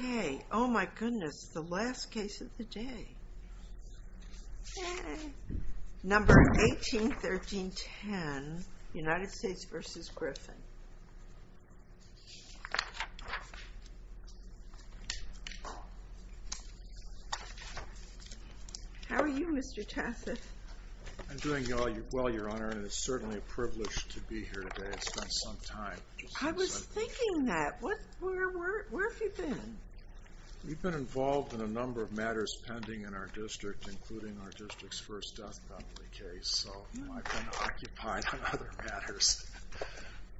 Okay, oh my goodness, the last case of the day. Number 181310, United States v. Griffith. How are you, Mr. Tassif? I'm doing well, Your Honor, and it's certainly a privilege to be here today. It's been some time. I was thinking that. Where have you been? We've been involved in a number of matters pending in our district, including our district's first death penalty case, so I've been occupied on other matters.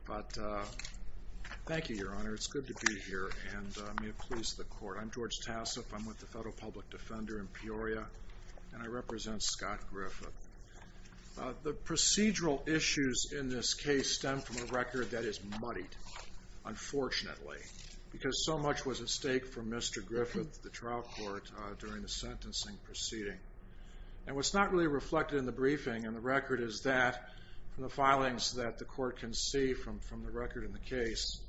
But thank you, Your Honor. It's good to be here, and may it please the Court. I'm George Tassif. I'm with the Federal Public Defender in Peoria, and I represent Scott Griffith. The procedural issues in this case stem from a record that is muddied, unfortunately, because so much was at stake for Mr. Griffith, the trial court, during the sentencing proceeding. And what's not really reflected in the briefing in the record is that, from the filings that the Court can see from the record in the case,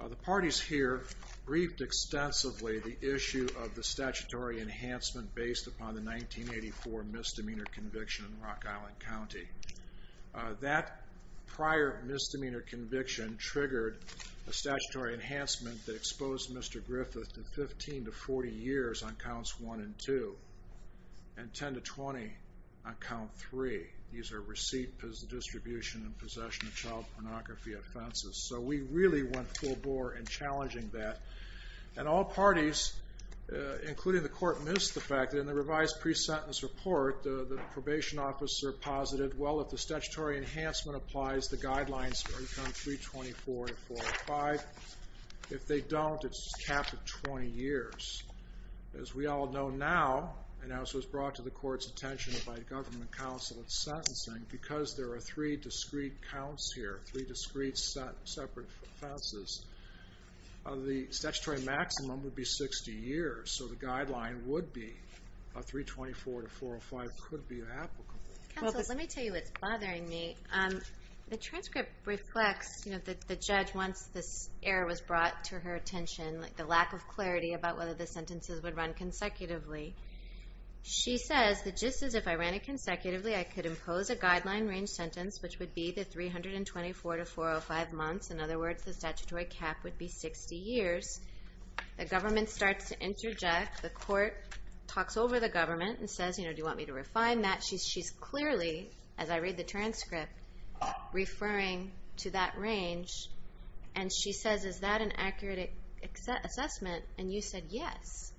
the parties here briefed extensively the issue of the statutory enhancement based upon the 1984 misdemeanor conviction in Rock Island County. That prior misdemeanor conviction triggered a statutory enhancement that exposed Mr. Griffith to 15 to 40 years on Counts 1 and 2 and 10 to 20 on Count 3. These are receipt, distribution, and possession of child pornography offenses. So we really went full bore in challenging that, and all parties, including the Court, missed the fact that in the revised pre-sentence report, the probation officer posited, well, if the statutory enhancement applies, the guidelines are to count 324 and 405. If they don't, it's capped at 20 years. As we all know now, and as was brought to the Court's attention by the Government Counsel in sentencing, because there are three discrete counts here, three discrete separate offenses, the statutory maximum would be 60 years. So the guideline would be 324 to 405 could be applicable. Counsel, let me tell you what's bothering me. The transcript reflects that the judge, once this error was brought to her attention, the lack of clarity about whether the sentences would run consecutively. She says that just as if I ran it consecutively, I could impose a guideline-range sentence, which would be the 324 to 405 months. In other words, the statutory cap would be 60 years. The Government starts to interject. The Court talks over the Government and says, you know, do you want me to refine that? She's clearly, as I read the transcript, referring to that range. And she says, is that an accurate assessment? And you said yes.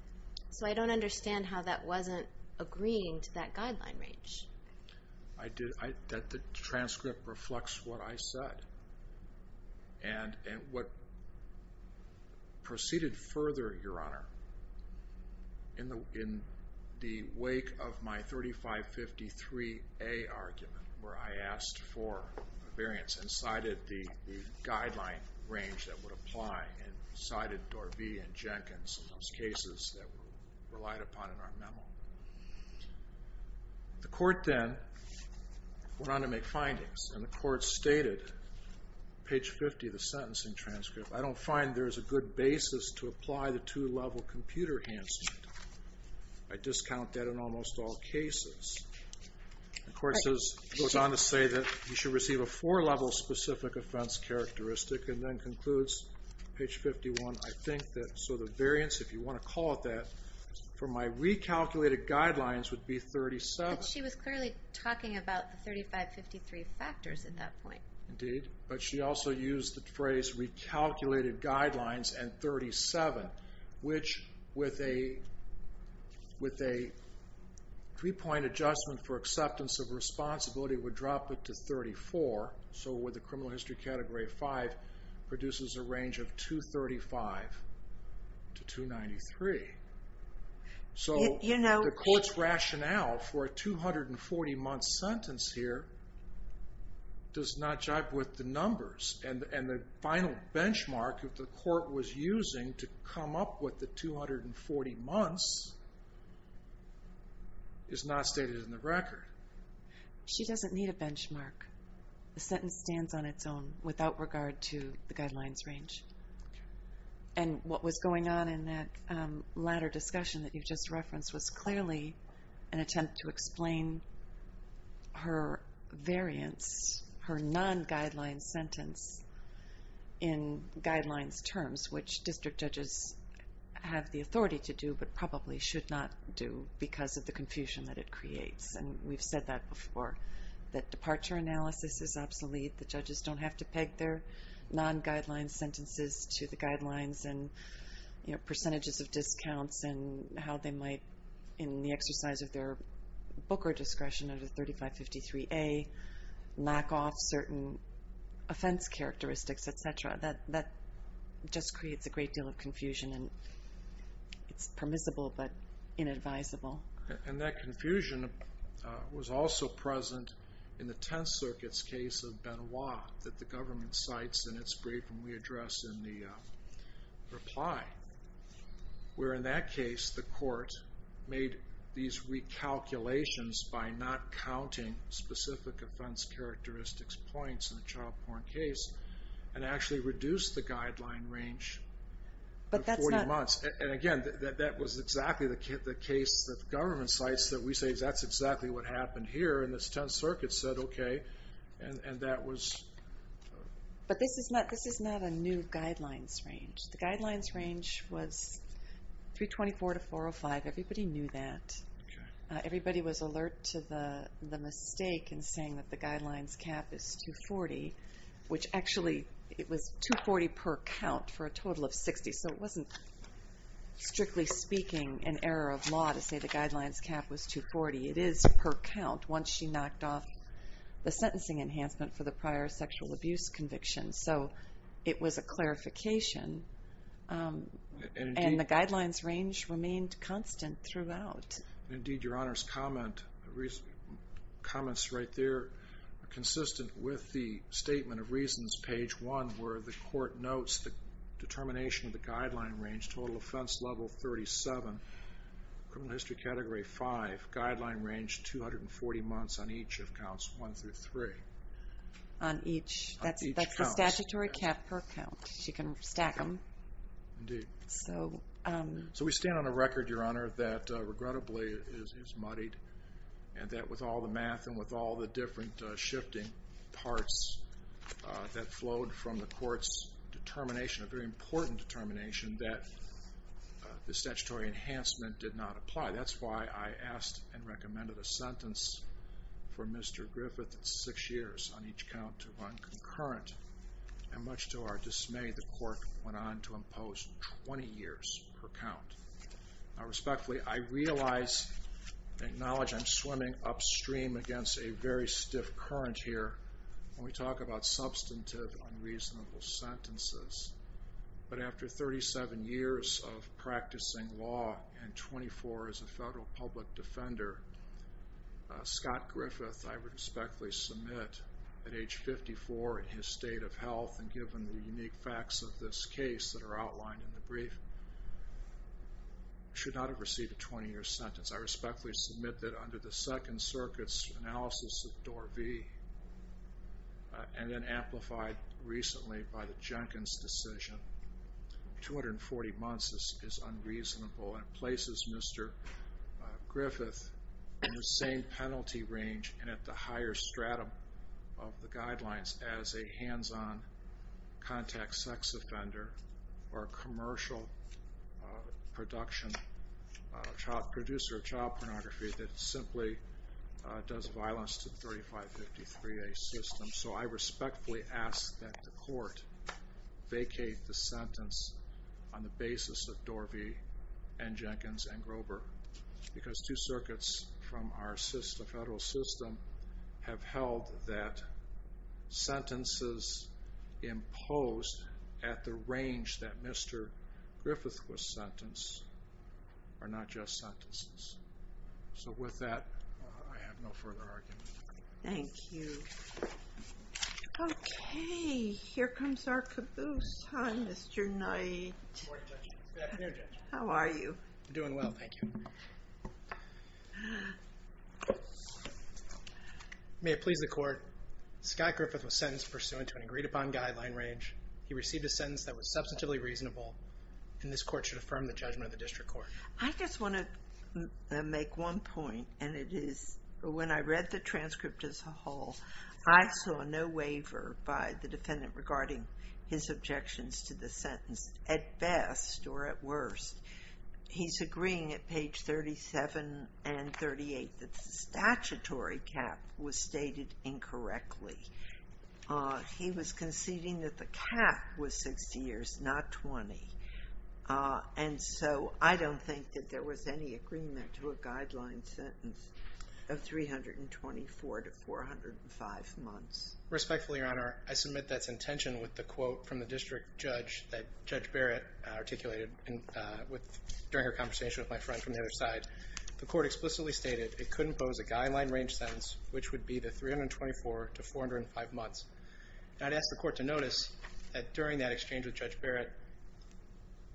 So I don't understand how that wasn't agreeing to that guideline range. The transcript reflects what I said. And what proceeded further, Your Honor, in the wake of my 3553A argument, where I asked for a variance and cited the guideline range that would apply and cited Dorvey and Jenkins and those cases that were relied upon in our memo. The Court then went on to make findings. And the Court stated, page 50 of the sentencing transcript, I don't find there is a good basis to apply the two-level computer enhancement. I discount that in almost all cases. The Court goes on to say that you should receive a four-level specific offense characteristic and then concludes, page 51, I think that so the variance, if you want to call it that, for my recalculated guidelines would be 37. But she was clearly talking about the 3553 factors at that point. Indeed. But she also used the phrase recalculated guidelines and 37, which with a three-point adjustment for acceptance of responsibility would drop it to 34. So with the criminal history Category 5 produces a range of 235 to 293. So the Court's rationale for a 240-month sentence here does not jive with the numbers. And the final benchmark that the Court was using to come up with the 240 months is not stated in the record. She doesn't need a benchmark. The sentence stands on its own without regard to the guidelines range. And what was going on in that latter discussion that you just referenced was clearly an attempt to explain her variance, her non-guideline sentence in guidelines terms, which district judges have the authority to do but probably should not do because of the confusion that it creates. And we've said that before, that departure analysis is obsolete. The judges don't have to peg their non-guideline sentences to the guidelines and percentages of discounts and how they might, in the exercise of their booker discretion under 3553A, knock off certain offense characteristics, et cetera. That just creates a great deal of confusion. And it's permissible but inadvisable. And that confusion was also present in the Tenth Circuit's case of Benoit that the government cites in its brief and we address in the reply, where in that case the Court made these recalculations by not counting specific offense characteristics points in a child porn case and actually reduced the guideline range of 40 months. And again, that was exactly the case that the government cites that we say that's exactly what happened here. And the Tenth Circuit said, okay, and that was... But this is not a new guidelines range. The guidelines range was 324 to 405. Everybody knew that. Everybody was alert to the mistake in saying that the guidelines cap is 240, which actually it was 240 per count for a total of 60. So it wasn't strictly speaking an error of law to say the guidelines cap was 240. It is per count once she knocked off the sentencing enhancement for the prior sexual abuse conviction. So it was a clarification. And the guidelines range remained constant throughout. Indeed, Your Honor's comments right there are consistent with the Statement of Reasons, Page 1, where the court notes the determination of the guideline range, total offense level 37, criminal history category 5, guideline range 240 months on each of counts 1 through 3. On each? That's the statutory cap per count. She can stack them. Indeed. So we stand on a record, Your Honor, that regrettably is muddied and that with all the math and with all the different shifting parts that flowed from the court's determination, a very important determination, that the statutory enhancement did not apply. That's why I asked and recommended a sentence for Mr. Griffith that's six years on each count to run concurrent. And much to our dismay, the court went on to impose 20 years per count. Now respectfully, I realize and acknowledge I'm swimming upstream against a very stiff current here. When we talk about substantive unreasonable sentences, but after 37 years of practicing law and 24 as a federal public defender, Scott Griffith, I respectfully submit, at age 54 in his state of health and given the unique facts of this case that are outlined in the brief, should not have received a 20-year sentence. I respectfully submit that under the Second Circuit's analysis of Dor V and then amplified recently by the Jenkins decision, 240 months is unreasonable and places Mr. Griffith in the same penalty range and at the higher stratum of the guidelines as a hands-on contact sex offender or a commercial producer of child pornography that simply does violence to the 3553A system. So I respectfully ask that the court vacate the sentence on the basis of Dor V and Jenkins and Grover because two circuits from our federal system have held that sentences imposed at the range that Mr. Griffith was sentenced are not just sentences. So with that, I have no further argument. Thank you. Okay, here comes our caboose. Hi, Mr. Knight. Good morning, Judge. Good afternoon, Judge. How are you? Doing well, thank you. May it please the court, Scott Griffith was sentenced pursuant to an agreed upon guideline range. He received a sentence that was substantively reasonable and this court should affirm the judgment of the district court. I just want to make one point and it is when I read the transcript as a whole, I saw no waiver by the defendant regarding his objections to the sentence at best or at worst. He's agreeing at page 37 and 38 that the statutory cap was stated incorrectly. He was conceding that the cap was 60 years, not 20. And so I don't think that there was any agreement to a guideline sentence of 324 to 405 months. Respectfully, Your Honor, I submit that's intention with the quote from the district judge that Judge Barrett articulated during her conversation with my friend from the other side. The court explicitly stated it couldn't pose a guideline range sentence which would be the 324 to 405 months. I'd ask the court to notice that during that exchange with Judge Barrett,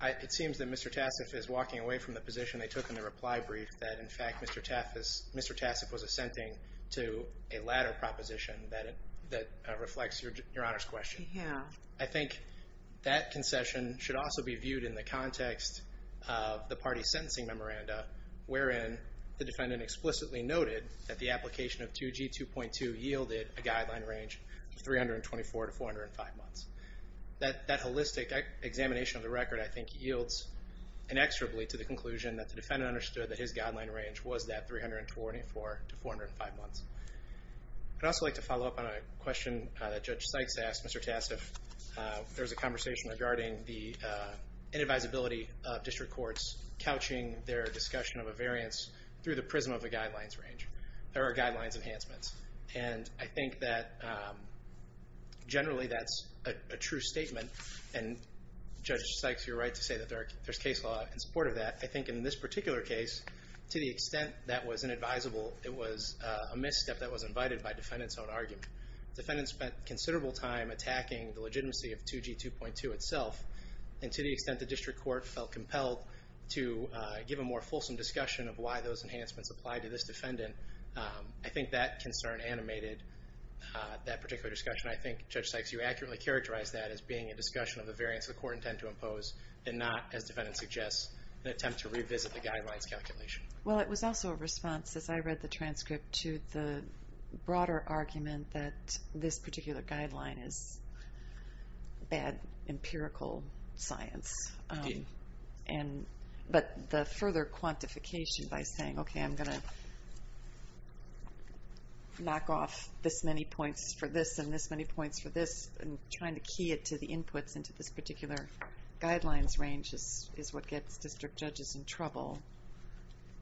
it seems that Mr. Tassif is walking away from the position they took in the reply brief that in fact Mr. Tassif was assenting to a latter proposition that reflects Your Honor's question. Yeah. I think that concession should also be viewed in the context of the party's sentencing memoranda wherein the defendant explicitly noted that the application of 2G 2.2 yielded a guideline range of 324 to 405 months. That holistic examination of the record, I think, yields inexorably to the conclusion that the defendant understood that his guideline range was that 324 to 405 months. I'd also like to follow up on a question that Judge Sykes asked Mr. Tassif. There was a conversation regarding the inadvisability of district courts couching their discussion of a variance through the prism of a guidelines range. There are guidelines enhancements, and I think that generally that's a true statement, and Judge Sykes, you're right to say that there's case law in support of that. I think in this particular case, to the extent that was inadvisable, it was a misstep that was invited by defendant's own argument. Defendant spent considerable time attacking the legitimacy of 2G 2.2 itself, and to the extent the district court felt compelled to give a more fulsome discussion of why those enhancements applied to this defendant, I think that concern animated that particular discussion. I think, Judge Sykes, you accurately characterized that as being a discussion of the variance the court intended to impose, and not, as defendant suggests, an attempt to revisit the guidelines calculation. Well, it was also a response, as I read the transcript, to the broader argument that this particular guideline is bad empirical science. But the further quantification by saying, okay, I'm going to knock off this many points for this and this many points for this, and trying to key it to the inputs into this particular guidelines range is what gets district judges in trouble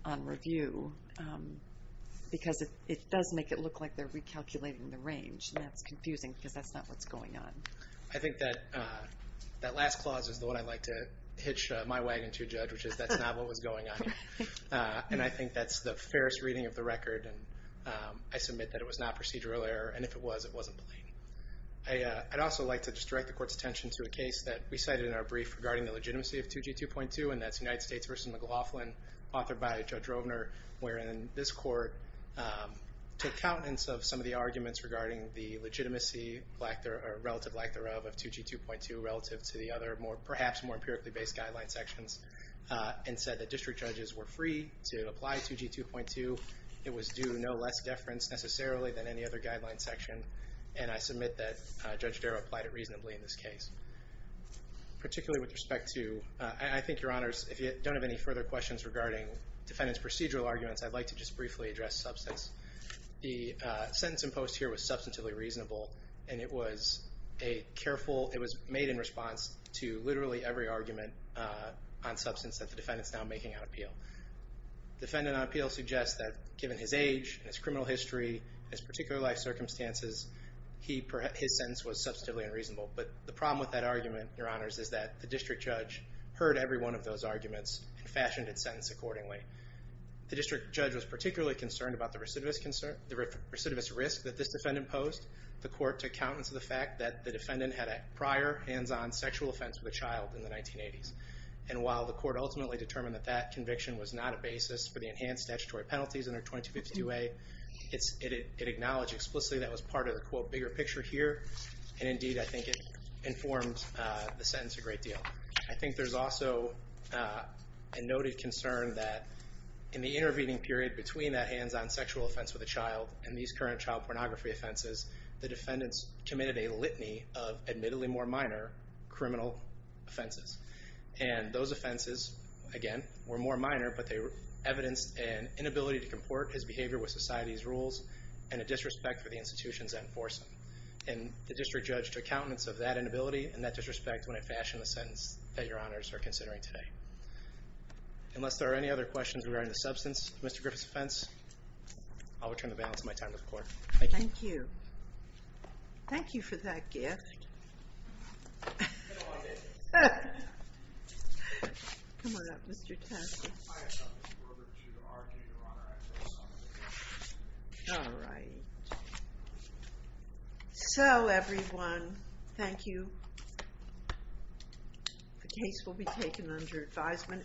on review, because it does make it look like they're recalculating the range, and that's confusing because that's not what's going on. I think that that last clause is the one I like to hitch my wagon to, Judge, which is that's not what was going on here. And I think that's the fairest reading of the record, and I submit that it was not procedural error, and if it was, it wasn't plain. I'd also like to just direct the court's attention to a case that we cited in our brief regarding the legitimacy of 2G2.2, and that's United States v. McLaughlin, authored by Judge Rovner, wherein this court took countenance of some of the arguments regarding the legitimacy, or relative lack thereof, of 2G2.2 relative to the other perhaps more empirically based guideline sections, and said that district judges were free to apply 2G2.2. It was due no less deference necessarily than any other guideline section, and I submit that Judge Darrow applied it reasonably in this case. Particularly with respect to, I think, Your Honors, if you don't have any further questions regarding defendant's procedural arguments, I'd like to just briefly address substance. The sentence imposed here was substantively reasonable. And it was made in response to literally every argument on substance that the defendant's now making on appeal. Defendant on appeal suggests that given his age, his criminal history, his particular life circumstances, his sentence was substantively unreasonable. But the problem with that argument, Your Honors, is that the district judge heard every one of those arguments and fashioned its sentence accordingly. The district judge was particularly concerned about the recidivist risk that this defendant posed. The court took countenance of the fact that the defendant had a prior hands-on sexual offense with a child in the 1980s. And while the court ultimately determined that that conviction was not a basis for the enhanced statutory penalties under 2252A, it acknowledged explicitly that was part of the quote, bigger picture here. And indeed, I think it informed the sentence a great deal. I think there's also a noted concern that in the intervening period between that hands-on sexual offense with a child and these current child pornography offenses, the defendants committed a litany of admittedly more minor criminal offenses. And those offenses, again, were more minor, but they evidenced an inability to comport his behavior with society's rules and a disrespect for the institutions that enforce them. And the district judge took countenance of that inability and that disrespect when it fashioned the sentence that Your Honors are considering today. Unless there are any other questions regarding the substance of Mr. Griffith's offense, I'll return the balance of my time to the court. Thank you. Thank you for that gift. Come on up, Mr. Taffy. All right. So, everyone, thank you. The case will be taken under advisement.